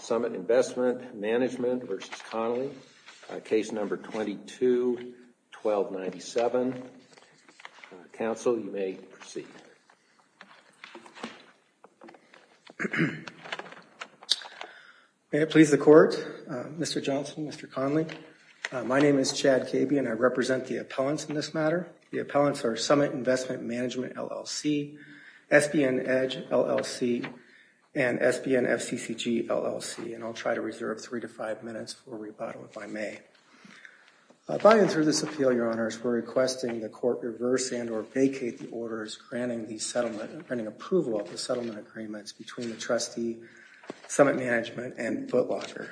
Summit Investment Management v. Connolly, Case No. 22-1297. Counsel, you may proceed. May it please the Court, Mr. Johnson, Mr. Connolly. My name is Chad Kabe and I represent the appellants in this matter. The appellants are Summit Investment Management, LLC, SBN EDGE, LLC, and SBN FCCG, LLC, and I'll try to reserve three to five minutes for rebuttal if I may. By and through this appeal, Your Honors, we're requesting the Court reverse and or vacate the orders granting the settlement, granting approval of the settlement agreements between the trustee, Summit Management, and Foot Locker.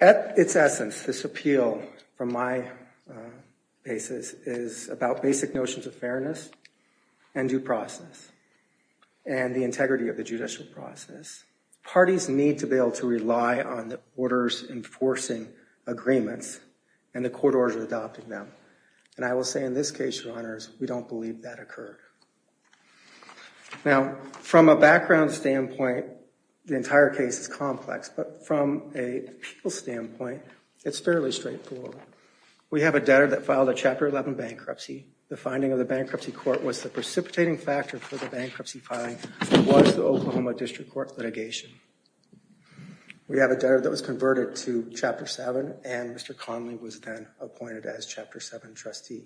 At its essence, this appeal, from my basis, is about basic notions of fairness and due process and the integrity of the judicial process. Parties need to be able to rely on the orders enforcing agreements and the court orders adopting them, and I will say in this case, Your Honors, we don't believe that occurred. Now, from a background standpoint, the entire case is complex, but from a people standpoint, it's fairly straightforward. We have a debtor that filed a Chapter 11 bankruptcy. The finding of the bankruptcy court was the precipitating factor for the bankruptcy filing was the Oklahoma District Court litigation. We have a debtor that was converted to Chapter 7, and Mr. Connolly was then appointed as Chapter 7 trustee.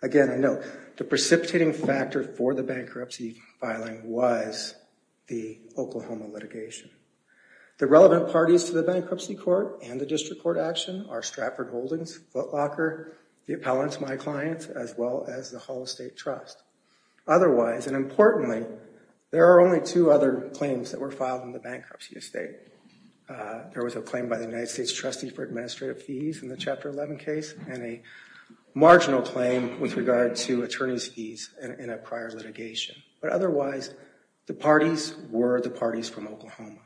Again, a note, the precipitating factor for the bankruptcy filing was the Oklahoma litigation. The relevant parties to the bankruptcy court and the District Court action are Stratford Holdings, Foot Locker, the appellants, my clients, as well as the Hull Estate Trust. Otherwise, and importantly, there are only two other claims that were filed in the bankruptcy estate. There was a claim by the United States trustee for administrative fees in the Chapter 11 case and a marginal claim with regard to attorney's fees in a prior litigation. But otherwise, the parties were the parties from Oklahoma.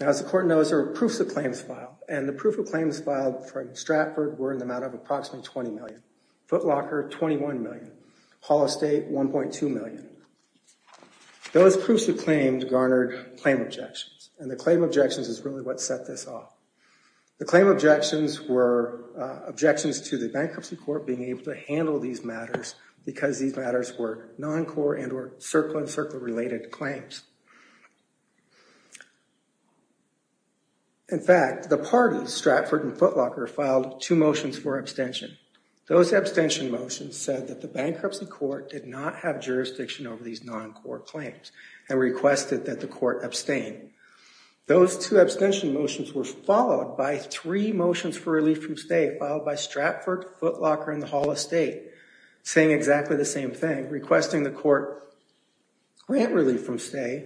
Now, as the court knows, there are proofs of claims filed, and the proof of claims filed from Stratford were in the amount of approximately $20 million. Foot Locker, $21 million. Hull Estate, $1.2 million. Those proofs of claims garnered claim objections, and the claim objections is really what set this off. The claim objections were objections to the bankruptcy court being able to handle these matters because these matters were non-core and were circle-in-circle related claims. In fact, the parties, Stratford and Foot Locker, filed two motions for abstention. Those abstention motions said that the bankruptcy court did not have jurisdiction over these non-core claims and requested that the court abstain. Those two abstention motions were followed by three motions for relief from stay, followed by Stratford, Foot Locker, and the Hull Estate saying exactly the same thing, requesting the court grant relief from stay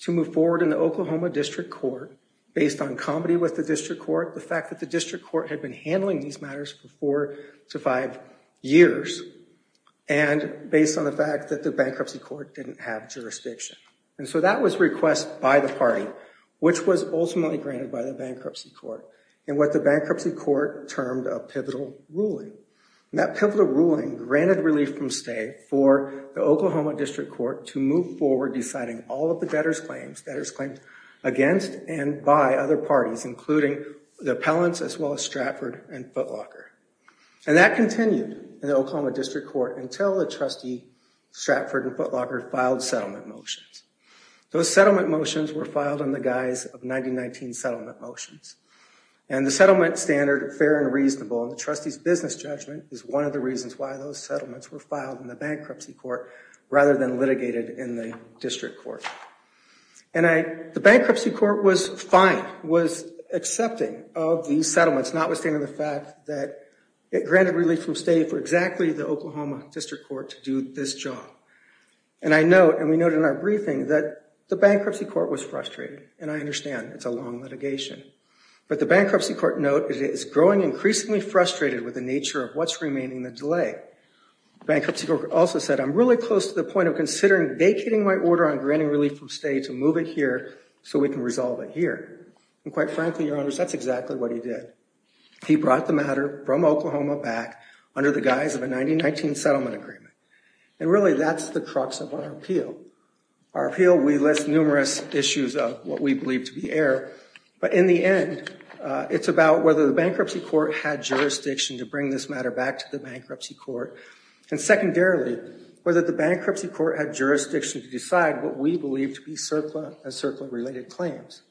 to move forward in the Oklahoma District Court. Based on comedy with the District Court, the fact that the District Court had been handling these matters for four to five years, and based on the fact that the bankruptcy court didn't have jurisdiction. And so that was request by the party, which was ultimately granted by the bankruptcy court, in what the bankruptcy court termed a pivotal ruling. That pivotal ruling granted relief from stay for the Oklahoma District Court to move forward deciding all of the debtors' claims, debtors' claims against and by other parties, including the appellants as well as Stratford and Foot Locker. And that continued in the Oklahoma District Court until the trustee, Stratford and Foot Locker, filed settlement motions. Those settlement motions were filed in the guise of 1919 settlement motions. And the settlement standard, fair and reasonable, and the trustee's business judgment is one of the reasons why those settlements were filed in the bankruptcy court rather than litigated in the District Court. And the bankruptcy court was fine, was accepting of these settlements, notwithstanding the fact that it granted relief from stay for exactly the Oklahoma District Court to do this job. And I note, and we noted in our briefing, that the bankruptcy court was frustrated. And I understand it's a long litigation. But the bankruptcy court note it is growing increasingly frustrated with the nature of what's remaining in the delay. Bankruptcy court also said, I'm really close to the point of considering vacating my order on granting relief from stay to move it here so we can resolve it here. And quite frankly, your honors, that's exactly what he did. He brought the matter from Oklahoma back under the guise of a 1919 settlement agreement. And really, that's the crux of our appeal. Our appeal, we list numerous issues of what we believe to be error. But in the end, it's about whether the bankruptcy court had jurisdiction to bring this matter back to the bankruptcy court. And secondarily, whether the bankruptcy court had jurisdiction to decide what we believe to be CERCLA and CERCLA-related claims.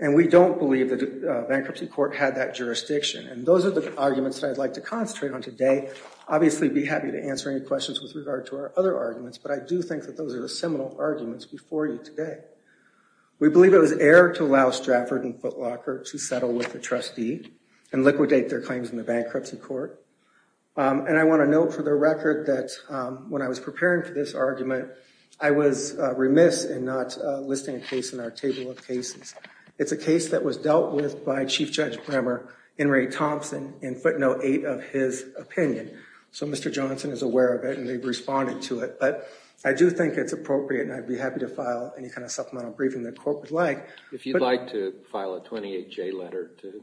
And we don't believe that the bankruptcy court had that jurisdiction. And those are the arguments that I'd like to concentrate on today. I'd obviously be happy to answer any questions with regard to our other arguments. But I do think that those are the seminal arguments before you today. We believe it was error to allow Stratford and Footlocker to settle with the trustee and liquidate their claims in the bankruptcy court. And I want to note for the record that when I was preparing for this argument, I was remiss in not listing a case in our table of cases. It's a case that was dealt with by Chief Judge Bremer and Ray Thompson in footnote 8 of his opinion. So Mr. Johnson is aware of it, and they've responded to it. But I do think it's appropriate, and I'd be happy to file any kind of supplemental briefing the court would like. If you'd like to file a 28-J letter to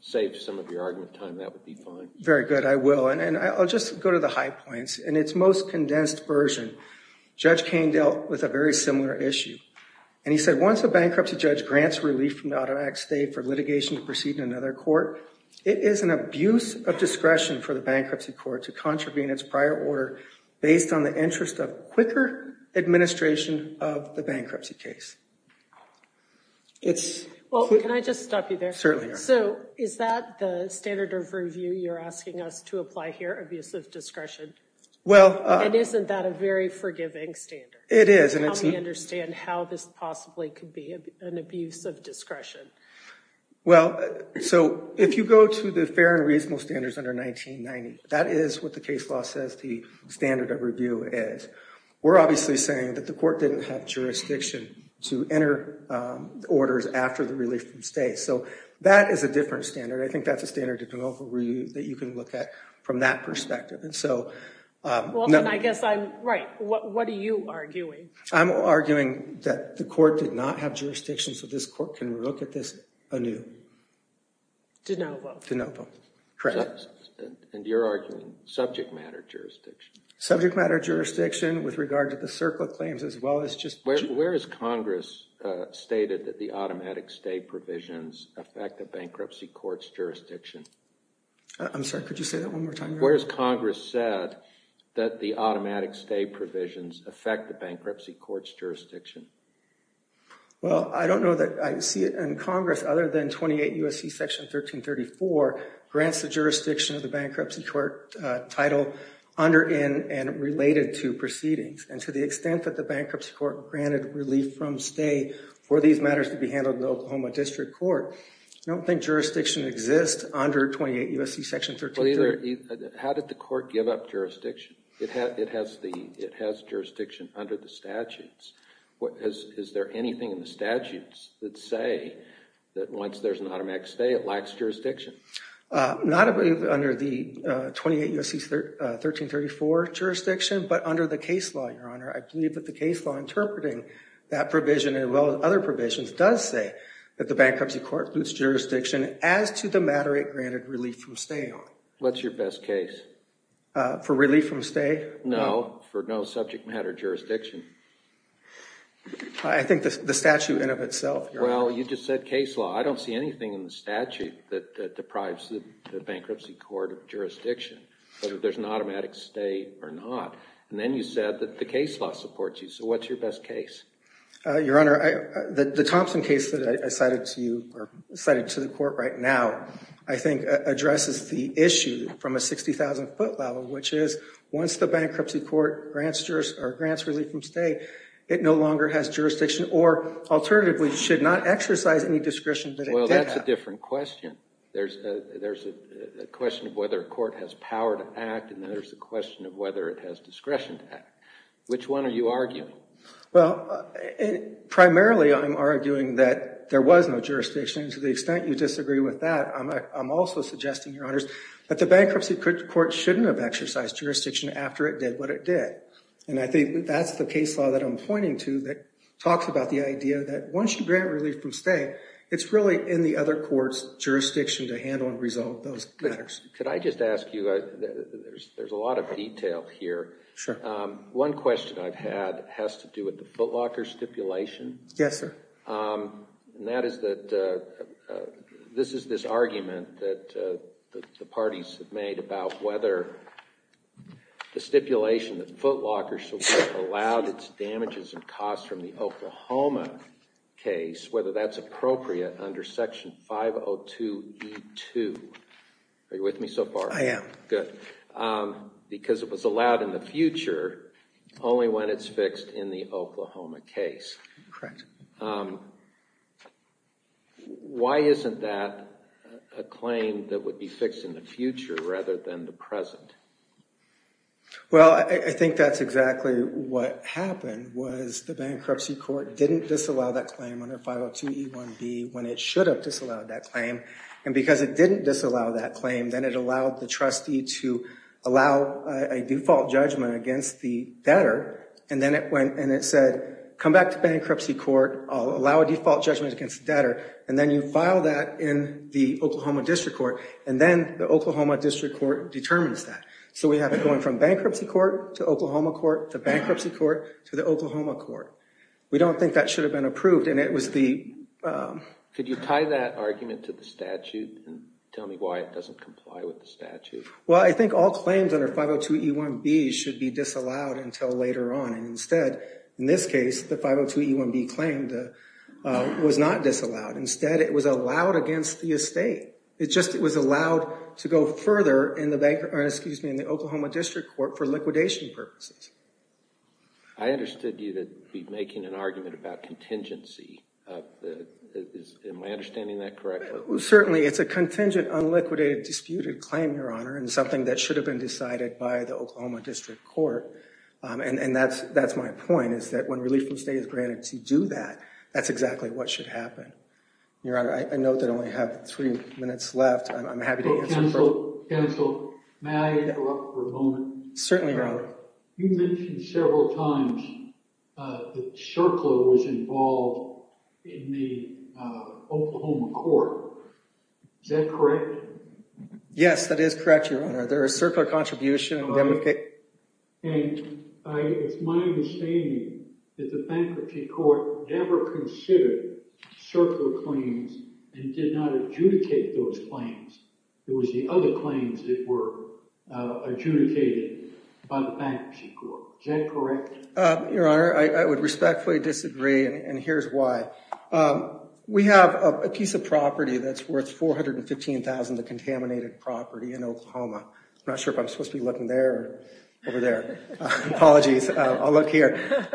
save some of your argument time, that would be fine. Very good. I will. And I'll just go to the high points. In its most condensed version, Judge Kaine dealt with a very similar issue. And he said, once a bankruptcy judge grants relief from the automatic stay for litigation to proceed in another court, it is an abuse of discretion for the bankruptcy court to contravene its prior order based on the interest of quicker administration of the bankruptcy case. Well, can I just stop you there? Certainly. So is that the standard of review you're asking us to apply here, abuse of discretion? And isn't that a very forgiving standard? It is. How do we understand how this possibly could be an abuse of discretion? Well, so if you go to the fair and reasonable standards under 1990, that is what the case law says the standard of review is. We're obviously saying that the court didn't have jurisdiction to enter orders after the relief from stay. So that is a different standard. I think that's a standard that you can look at from that perspective. Well, then I guess I'm right. What are you arguing? I'm arguing that the court did not have jurisdiction, so this court can look at this anew. De novo. De novo. Correct. And you're arguing subject matter jurisdiction. Subject matter jurisdiction with regard to the circle of claims as well as just Where has Congress stated that the automatic stay provisions affect the bankruptcy court's jurisdiction? I'm sorry, could you say that one more time? Where has Congress said that the automatic stay provisions affect the bankruptcy court's jurisdiction? Well, I don't know that I see it in Congress other than 28 U.S.C. Section 1334 grants the jurisdiction of the bankruptcy court title under and related to proceedings. And to the extent that the bankruptcy court granted relief from stay for these matters to be handled in the Oklahoma District Court, I don't think jurisdiction exists under 28 U.S.C. Section 1334. How did the court give up jurisdiction? It has jurisdiction under the statutes. Is there anything in the statutes that say that once there's an automatic stay, it lacks jurisdiction? Not under the 28 U.S.C. 1334 jurisdiction, but under the case law, Your Honor. I believe that the case law interpreting that provision as well as other provisions does say that the bankruptcy court gives jurisdiction as to the matter it granted relief from stay on. What's your best case? For relief from stay? No, for no subject matter jurisdiction. I think the statute in of itself, Your Honor. Well, you just said case law. I don't see anything in the statute that deprives the bankruptcy court of jurisdiction, whether there's an automatic stay or not. And then you said that the case law supports you. So what's your best case? Your Honor, the Thompson case that I cited to you or cited to the court right now, I think, addresses the issue from a 60,000-foot level, which is once the bankruptcy court grants relief from stay, it no longer has jurisdiction or alternatively should not exercise any discretion that it did have. Well, that's a different question. There's a question of whether a court has power to act, and then there's the question of whether it has discretion to act. Which one are you arguing? Well, primarily I'm arguing that there was no jurisdiction. And to the extent you disagree with that, I'm also suggesting, Your Honors, that the bankruptcy court shouldn't have exercised jurisdiction after it did what it did. And I think that's the case law that I'm pointing to that talks about the idea that once you grant relief from stay, it's really in the other court's jurisdiction to handle and resolve those matters. Could I just ask you, there's a lot of detail here. Sure. One question I've had has to do with the footlocker stipulation. Yes, sir. And that is that this is this argument that the parties have made about whether the stipulation that footlockers should be allowed its damages and costs from the Oklahoma case, whether that's appropriate under Section 502E2. Are you with me so far? I am. Good. Because it was allowed in the future, only when it's fixed in the Oklahoma case. Correct. Why isn't that a claim that would be fixed in the future rather than the present? Well, I think that's exactly what happened was the bankruptcy court didn't disallow that claim under 502E1B when it should have disallowed that claim. And because it didn't disallow that claim, then it allowed the trustee to allow a default judgment against the debtor. And then it said, come back to bankruptcy court. I'll allow a default judgment against the debtor. And then you file that in the Oklahoma district court. And then the Oklahoma district court determines that. So we have it going from bankruptcy court to Oklahoma court to bankruptcy court to the Oklahoma court. We don't think that should have been approved. Could you tie that argument to the statute and tell me why it doesn't comply with the statute? Well, I think all claims under 502E1B should be disallowed until later on. Instead, in this case, the 502E1B claim was not disallowed. Instead, it was allowed against the estate. It just was allowed to go further in the Oklahoma district court for liquidation purposes. I understood you to be making an argument about contingency. Am I understanding that correctly? Certainly. It's a contingent, unliquidated, disputed claim, Your Honor, and something that should have been decided by the Oklahoma district court. And that's my point, is that when relief from state is granted to do that, that's exactly what should happen. Your Honor, I note that I only have three minutes left. I'm happy to answer questions. Certainly, Your Honor. You mentioned several times that CERCLA was involved in the Oklahoma court. Is that correct? Yes, that is correct, Your Honor. They're a CERCLA contribution. And it's my understanding that the bankruptcy court never considered CERCLA claims and did not adjudicate those claims. It was the other claims that were adjudicated by the bankruptcy court. Is that correct? Your Honor, I would respectfully disagree, and here's why. We have a piece of property that's worth $415,000, a contaminated property in Oklahoma. I'm not sure if I'm supposed to be looking there or over there. Apologies. I'll look here.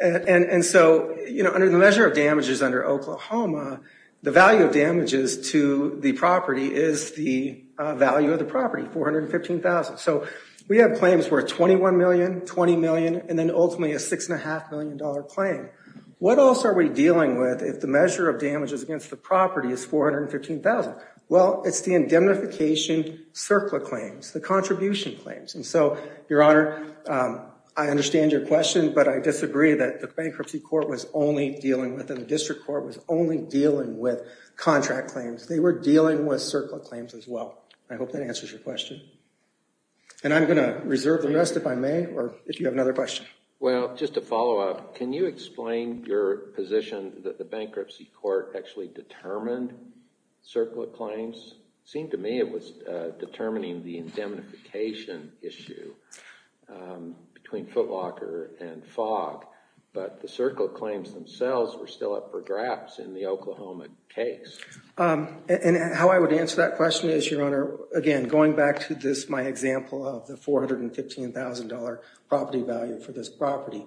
And so, you know, under the measure of damages under Oklahoma, the value of damages to the property is the value of the property, $415,000. So we have claims worth $21 million, $20 million, and then ultimately a $6.5 million claim. What else are we dealing with if the measure of damages against the property is $415,000? Well, it's the indemnification CERCLA claims, the contribution claims. And so, Your Honor, I understand your question, but I disagree that the bankruptcy court was only dealing with and the district court was only dealing with contract claims. They were dealing with CERCLA claims as well. I hope that answers your question. And I'm going to reserve the rest, if I may, or if you have another question. Well, just to follow up, can you explain your position that the bankruptcy court actually determined CERCLA claims? It seemed to me it was determining the indemnification issue between Footlocker and Fogg, but the CERCLA claims themselves were still up for grabs in the Oklahoma case. And how I would answer that question is, Your Honor, again, going back to my example of the $415,000 property value for this property,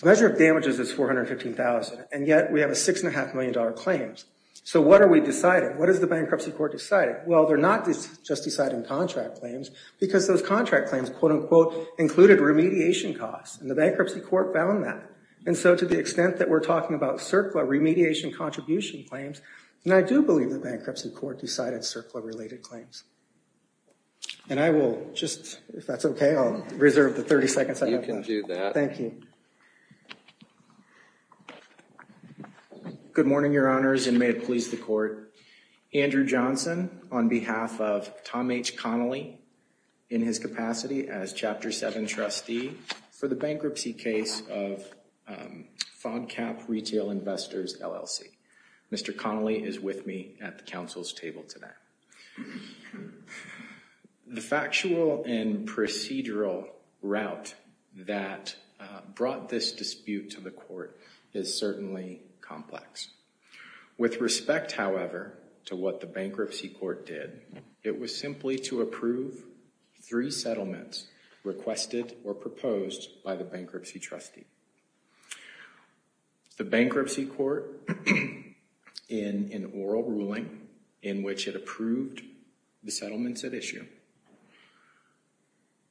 the measure of damages is $415,000, and yet we have $6.5 million claims. So what are we deciding? What has the bankruptcy court decided? Well, they're not just deciding contract claims, because those contract claims, quote, unquote, included remediation costs, and the bankruptcy court found that. And so to the extent that we're talking about CERCLA remediation contribution claims, then I do believe the bankruptcy court decided CERCLA-related claims. And I will just, if that's okay, I'll reserve the 30 seconds I have left. You can do that. Thank you. Good morning, Your Honors, and may it please the court. Andrew Johnson, on behalf of Tom H. Connolly, in his capacity as Chapter 7 trustee for the bankruptcy case of Fog Cap Retail Investors, LLC. Mr. Connolly is with me at the council's table today. The factual and procedural route that brought this dispute to the court is certainly complex. With respect, however, to what the bankruptcy court did, it was simply to approve three settlements requested or proposed by the bankruptcy trustee. The bankruptcy court, in an oral ruling in which it approved the settlements at issue,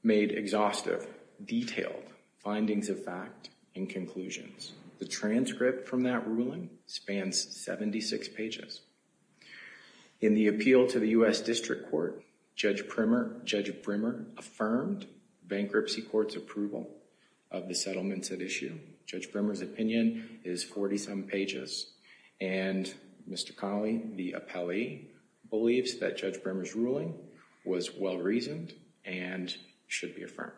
made exhaustive, detailed findings of fact and conclusions. The transcript from that ruling spans 76 pages. In the appeal to the U.S. District Court, Judge Brimmer affirmed bankruptcy court's approval of the settlements at issue. Judge Brimmer's opinion is 47 pages, and Mr. Connolly, the appellee, believes that Judge Brimmer's ruling was well-reasoned and should be affirmed.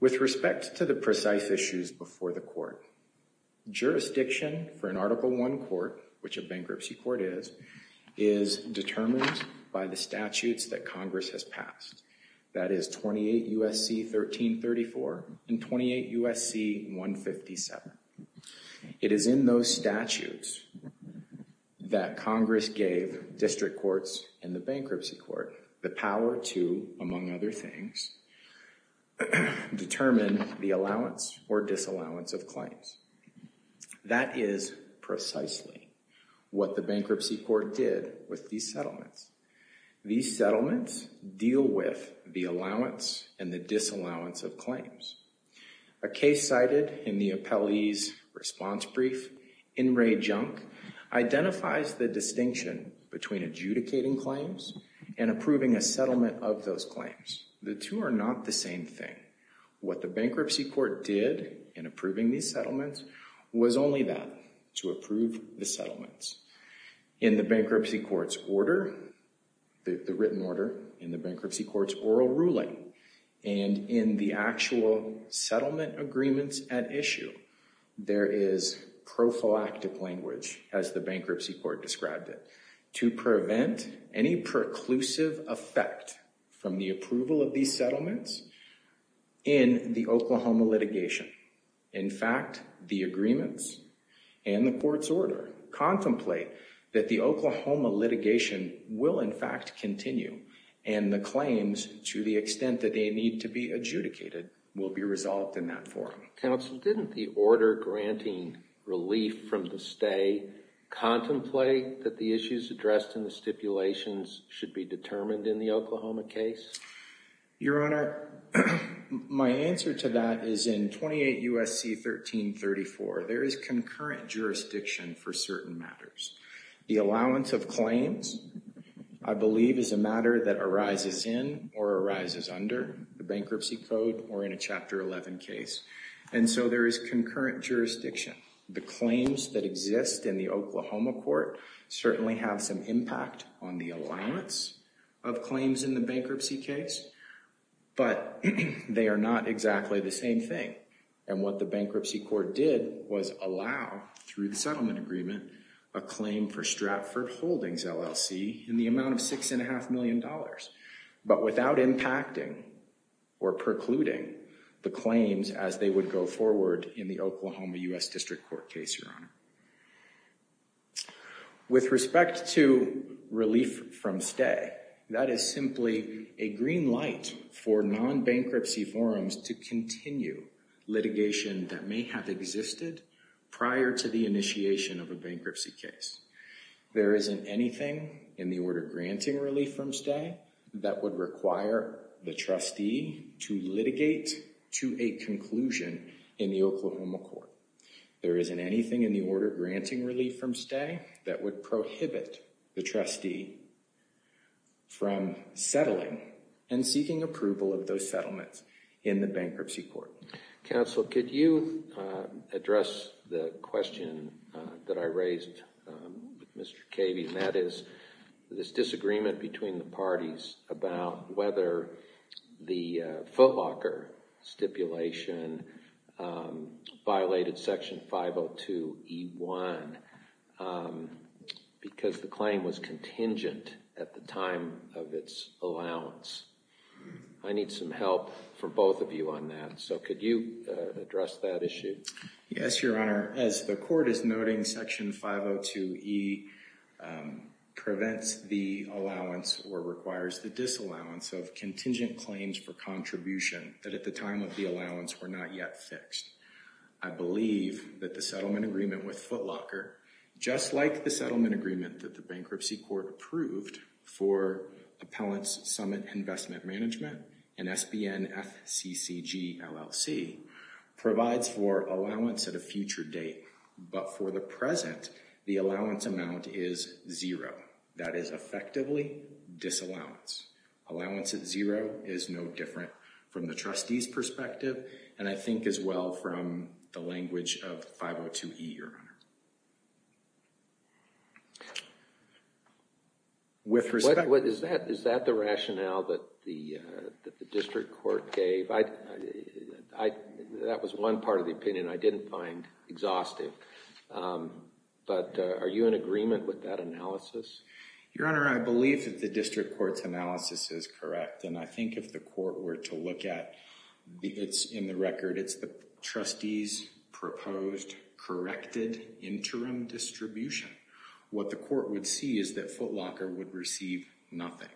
With respect to the precise issues before the court, jurisdiction for an Article I court, which a bankruptcy court is, is determined by the statutes that Congress has passed. That is 28 U.S.C. 1334 and 28 U.S.C. 157. It is in those statutes that Congress gave district courts and the bankruptcy court the power to, among other things, determine the allowance or disallowance of claims. That is precisely what the bankruptcy court did with these settlements. These settlements deal with the allowance and the disallowance of claims. A case cited in the appellee's response brief, in Ray Junk, identifies the distinction between adjudicating claims and approving a settlement of those claims. The two are not the same thing. What the bankruptcy court did in approving these settlements was only that, to approve the settlements. In the bankruptcy court's order, the written order, in the bankruptcy court's oral ruling, and in the actual settlement agreements at issue, there is prophylactic language, as the bankruptcy court described it, to prevent any preclusive effect from the approval of these settlements in the Oklahoma litigation. In fact, the agreements and the court's order contemplate that the Oklahoma litigation will, in fact, continue and the claims, to the extent that they need to be adjudicated, will be resolved in that form. Counsel, didn't the order granting relief from the stay contemplate that the issues addressed in the stipulations should be determined in the Oklahoma case? Your Honor, my answer to that is in 28 U.S.C. 1334, there is concurrent jurisdiction for certain matters. The allowance of claims, I believe, is a matter that arises in or arises under the bankruptcy code or in a Chapter 11 case, and so there is concurrent jurisdiction. The claims that exist in the Oklahoma court certainly have some impact on the allowance of claims in the bankruptcy case, but they are not exactly the same thing, and what the bankruptcy court did was allow, through the settlement agreement, a claim for Stratford Holdings LLC in the amount of $6.5 million, but without impacting or precluding the claims as they would go forward in the Oklahoma U.S. District Court case, Your Honor. With respect to relief from stay, that is simply a green light for non-bankruptcy forums to continue litigation that may have existed prior to the initiation of a bankruptcy case. There isn't anything in the order granting relief from stay that would require the trustee to litigate to a conclusion in the Oklahoma court. There isn't anything in the order granting relief from stay that would prohibit the trustee from settling and seeking approval of those settlements in the bankruptcy court. Counsel, could you address the question that I raised with Mr. Cavy, and that is this disagreement between the parties about whether the footlocker stipulation violated Section 502E1 because the claim was contingent at the time of its allowance. I need some help from both of you on that, so could you address that issue? Yes, Your Honor. As the court is noting, Section 502E prevents the allowance or requires the disallowance of contingent claims for contribution that at the time of the allowance were not yet fixed. I believe that the settlement agreement with Footlocker, just like the settlement agreement that the bankruptcy court approved for Appellant's Summit Investment Management and SBN FCCGLLC, provides for allowance at a future date, but for the present, the allowance amount is zero. That is effectively disallowance. Allowance at zero is no different from the trustee's perspective and I think as well from the language of 502E, Your Honor. Is that the rationale that the district court gave? That was one part of the opinion I didn't find exhaustive, but are you in agreement with that analysis? Your Honor, I believe that the district court's analysis is correct and I think if the court were to look at it in the record, it's the trustee's proposed corrected interim distribution. What the court would see is that Footlocker would receive nothing.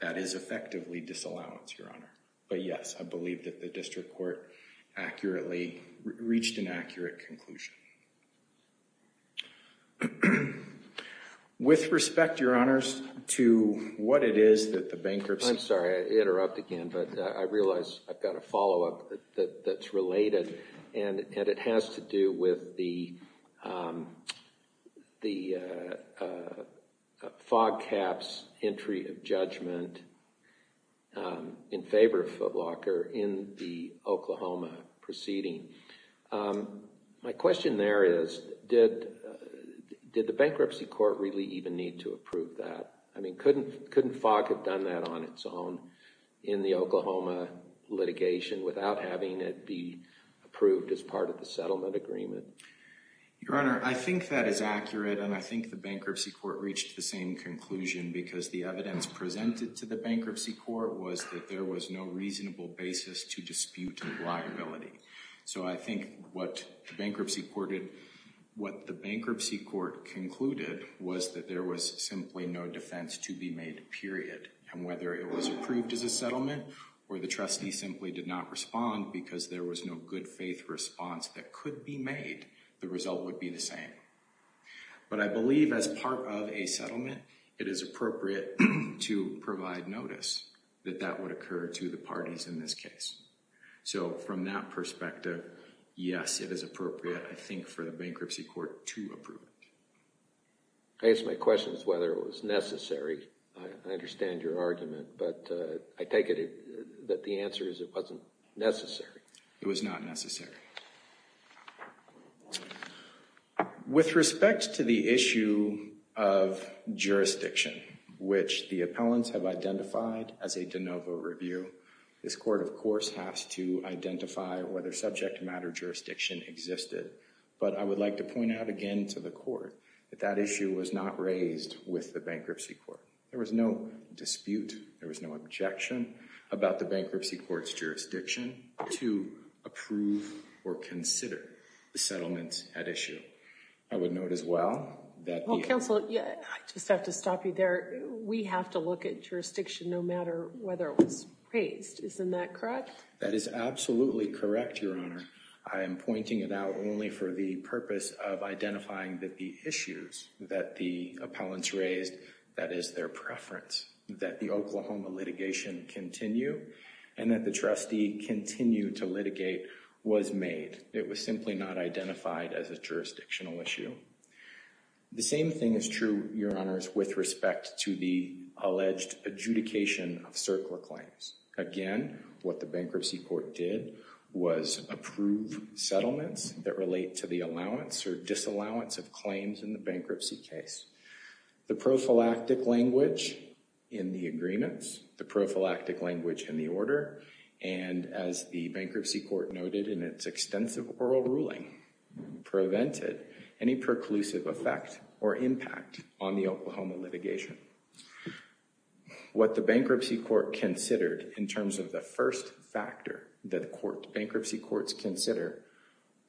That is effectively disallowance, Your Honor, but yes, I believe that the district court accurately reached an accurate conclusion. With respect, Your Honors, to what it is that the bankruptcy court... I'm sorry, I interrupt again, but I realize I've got a follow-up that's related and it has to do with the fog caps entry of judgment in favor of Footlocker in the Oklahoma proceeding. My question there is, did the bankruptcy court really even need to approve that? I mean, couldn't fog have done that on its own in the Oklahoma litigation without having it be approved as part of the settlement agreement? Your Honor, I think that is accurate and I think the bankruptcy court reached the same conclusion because the evidence presented to the bankruptcy court was that there was no reasonable basis to dispute liability. So I think what the bankruptcy court concluded was that there was simply no defense to be made, period. And whether it was approved as a settlement or the trustee simply did not respond because there was no good faith response that could be made, the result would be the same. But I believe as part of a settlement, it is appropriate to provide notice that that would occur to the parties in this case. So from that perspective, yes, it is appropriate, I think, for the bankruptcy court to approve it. I asked my questions whether it was necessary. I understand your argument, but I take it that the answer is it wasn't necessary. It was not necessary. With respect to the issue of jurisdiction, which the appellants have identified as a de novo review, this court, of course, has to identify whether subject matter jurisdiction existed. But I would like to point out again to the court that that issue was not raised with the bankruptcy court. There was no dispute. There was no objection about the bankruptcy court's jurisdiction to approve or consider the settlement at issue. I would note as well that... Well, counsel, I just have to stop you there. We have to look at jurisdiction no matter whether it was raised. Isn't that correct? That is absolutely correct, Your Honor. I am pointing it out only for the purpose of identifying that the issues that the appellants raised, that is their preference, that the Oklahoma litigation continue and that the trustee continue to litigate was made. It was simply not identified as a jurisdictional issue. The same thing is true, Your Honors, with respect to the alleged adjudication of CERC or claims. Again, what the bankruptcy court did was approve settlements that relate to the allowance or disallowance of claims in the bankruptcy case. The prophylactic language in the agreements, the prophylactic language in the order, and as the bankruptcy court noted in its extensive oral ruling, prevented any preclusive effect or impact on the Oklahoma litigation. What the bankruptcy court considered in terms of the first factor that bankruptcy courts consider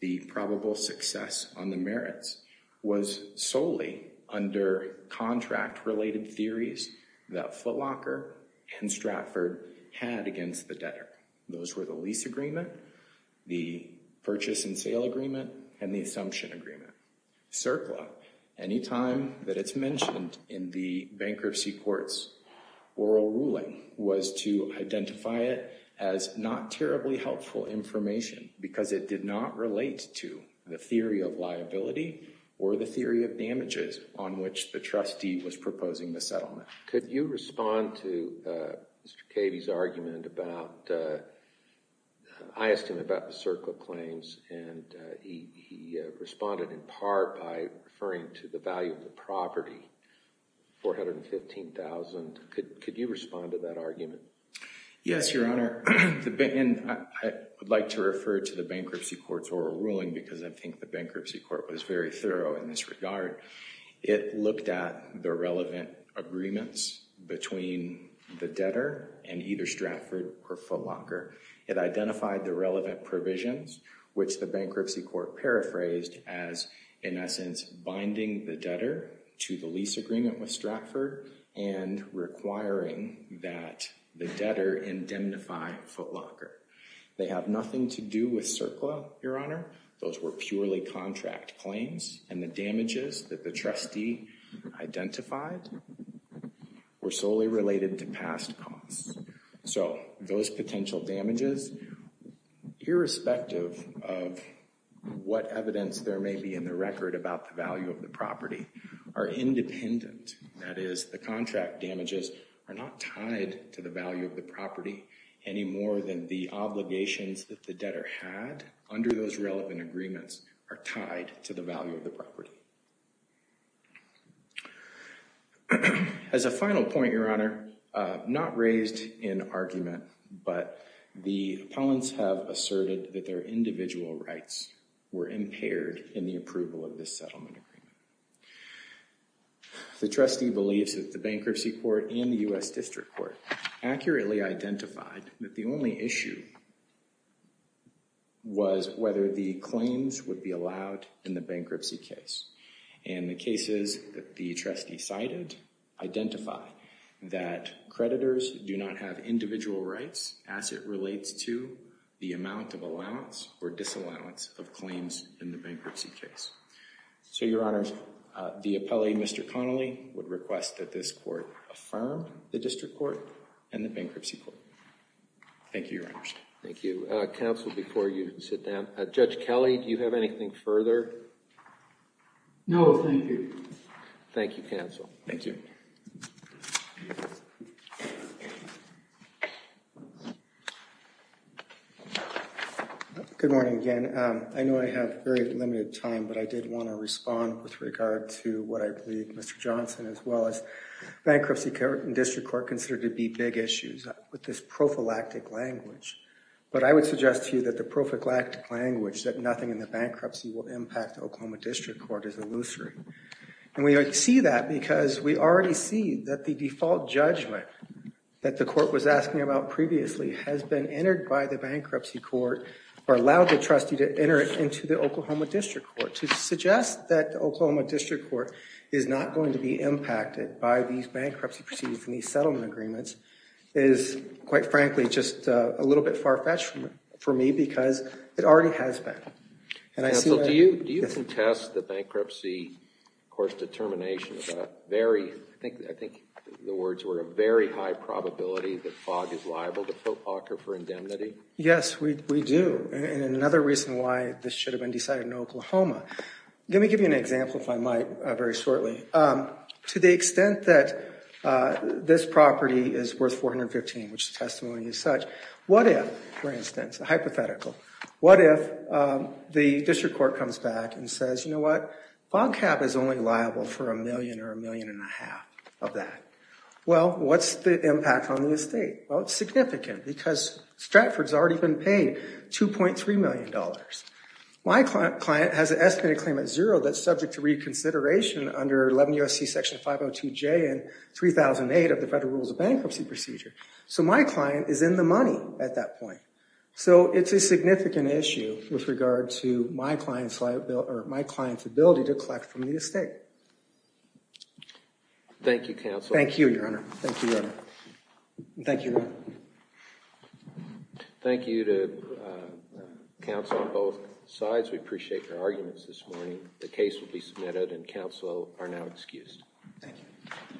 the probable success on the merits was solely under contract-related theories that Footlocker and Stratford had against the debtor. Those were the lease agreement, the purchase and sale agreement, and the assumption agreement. CERCLA, any time that it's mentioned in the bankruptcy court's oral ruling, was to identify it as not terribly helpful information because it did not relate to the theory of liability or the theory of damages on which the trustee was proposing the settlement. Could you respond to Mr. Cavy's argument about, I asked him about the CERCLA claims and he responded in part by referring to the value of the property, $415,000. Could you respond to that argument? Yes, Your Honor. I would like to refer to the bankruptcy court's oral ruling because I think the bankruptcy court was very thorough in this regard. It looked at the relevant agreements between the debtor and either Stratford or Footlocker. It identified the relevant provisions, which the bankruptcy court paraphrased as, in essence, binding the debtor to the lease agreement with Stratford and requiring that the debtor indemnify Footlocker. They have nothing to do with CERCLA, Your Honor. Those were purely contract claims and the damages that the trustee identified were solely related to past costs. So those potential damages, irrespective of what evidence there may be in the record about the value of the property, are independent. That is, the contract damages are not tied to the value of the property any more than the obligations that the debtor had under those relevant agreements are tied to the value of the property. As a final point, Your Honor, not raised in argument, but the opponents have asserted that their individual rights were impaired in the approval of this settlement agreement. The trustee believes that the bankruptcy court and the U.S. District Court accurately identified that the only issue was whether the claims would be allowed in the bankruptcy case. And the cases that the trustee cited identify that creditors do not have individual rights as it relates to the amount of allowance or disallowance of claims in the bankruptcy case. So, Your Honor, the appellee, Mr. Connolly, would request that this court affirm the District Court and the Bankruptcy Court. Thank you, Your Honor. Thank you. Counsel, before you sit down, Judge Kelly, do you have anything further? No, thank you. Thank you, Counsel. Thank you. Good morning again. I know I have very limited time, but I did want to respond with regard to what I believe Mr. Johnson, as well as Bankruptcy Court and District Court, consider to be big issues with this prophylactic language. But I would suggest to you that the prophylactic language, that nothing in the bankruptcy will impact the Oklahoma District Court, is illusory. And we see that because we already see that the default judgment that the court was asking about previously has been entered by the Bankruptcy Court or allowed the trustee to enter it into the Oklahoma District Court. To suggest that the Oklahoma District Court is not going to be impacted by these bankruptcy proceedings and these settlement agreements is, quite frankly, just a little bit far-fetched for me because it already has been. Counsel, do you contest the bankruptcy, of course, determination of a very, I think the words were, a very high probability that Fogg is liable to fill Parker for indemnity? Yes, we do. And another reason why this should have been decided in Oklahoma. Let me give you an example, if I might, very shortly. To the extent that this property is worth $415,000, which the testimony is such, what if, for instance, a hypothetical, what if the District Court comes back and says, you know what, Fogg Cab is only liable for a million or a million and a half of that. Well, what's the impact on the estate? Well, it's significant because Stratford's already been paid $2.3 million. My client has an estimated claim at zero that's subject to reconsideration under 11 U.S.C. Section 502J and 3008 of the Federal Rules of Bankruptcy Procedure. So my client is in the money at that point. So it's a significant issue with regard to my client's liability, or my client's ability to collect from the estate. Thank you, Counsel. Thank you, Your Honor. Thank you, Your Honor. Thank you to counsel on both sides. We appreciate your arguments this morning. The case will be submitted and counsel are now excused. Thank you.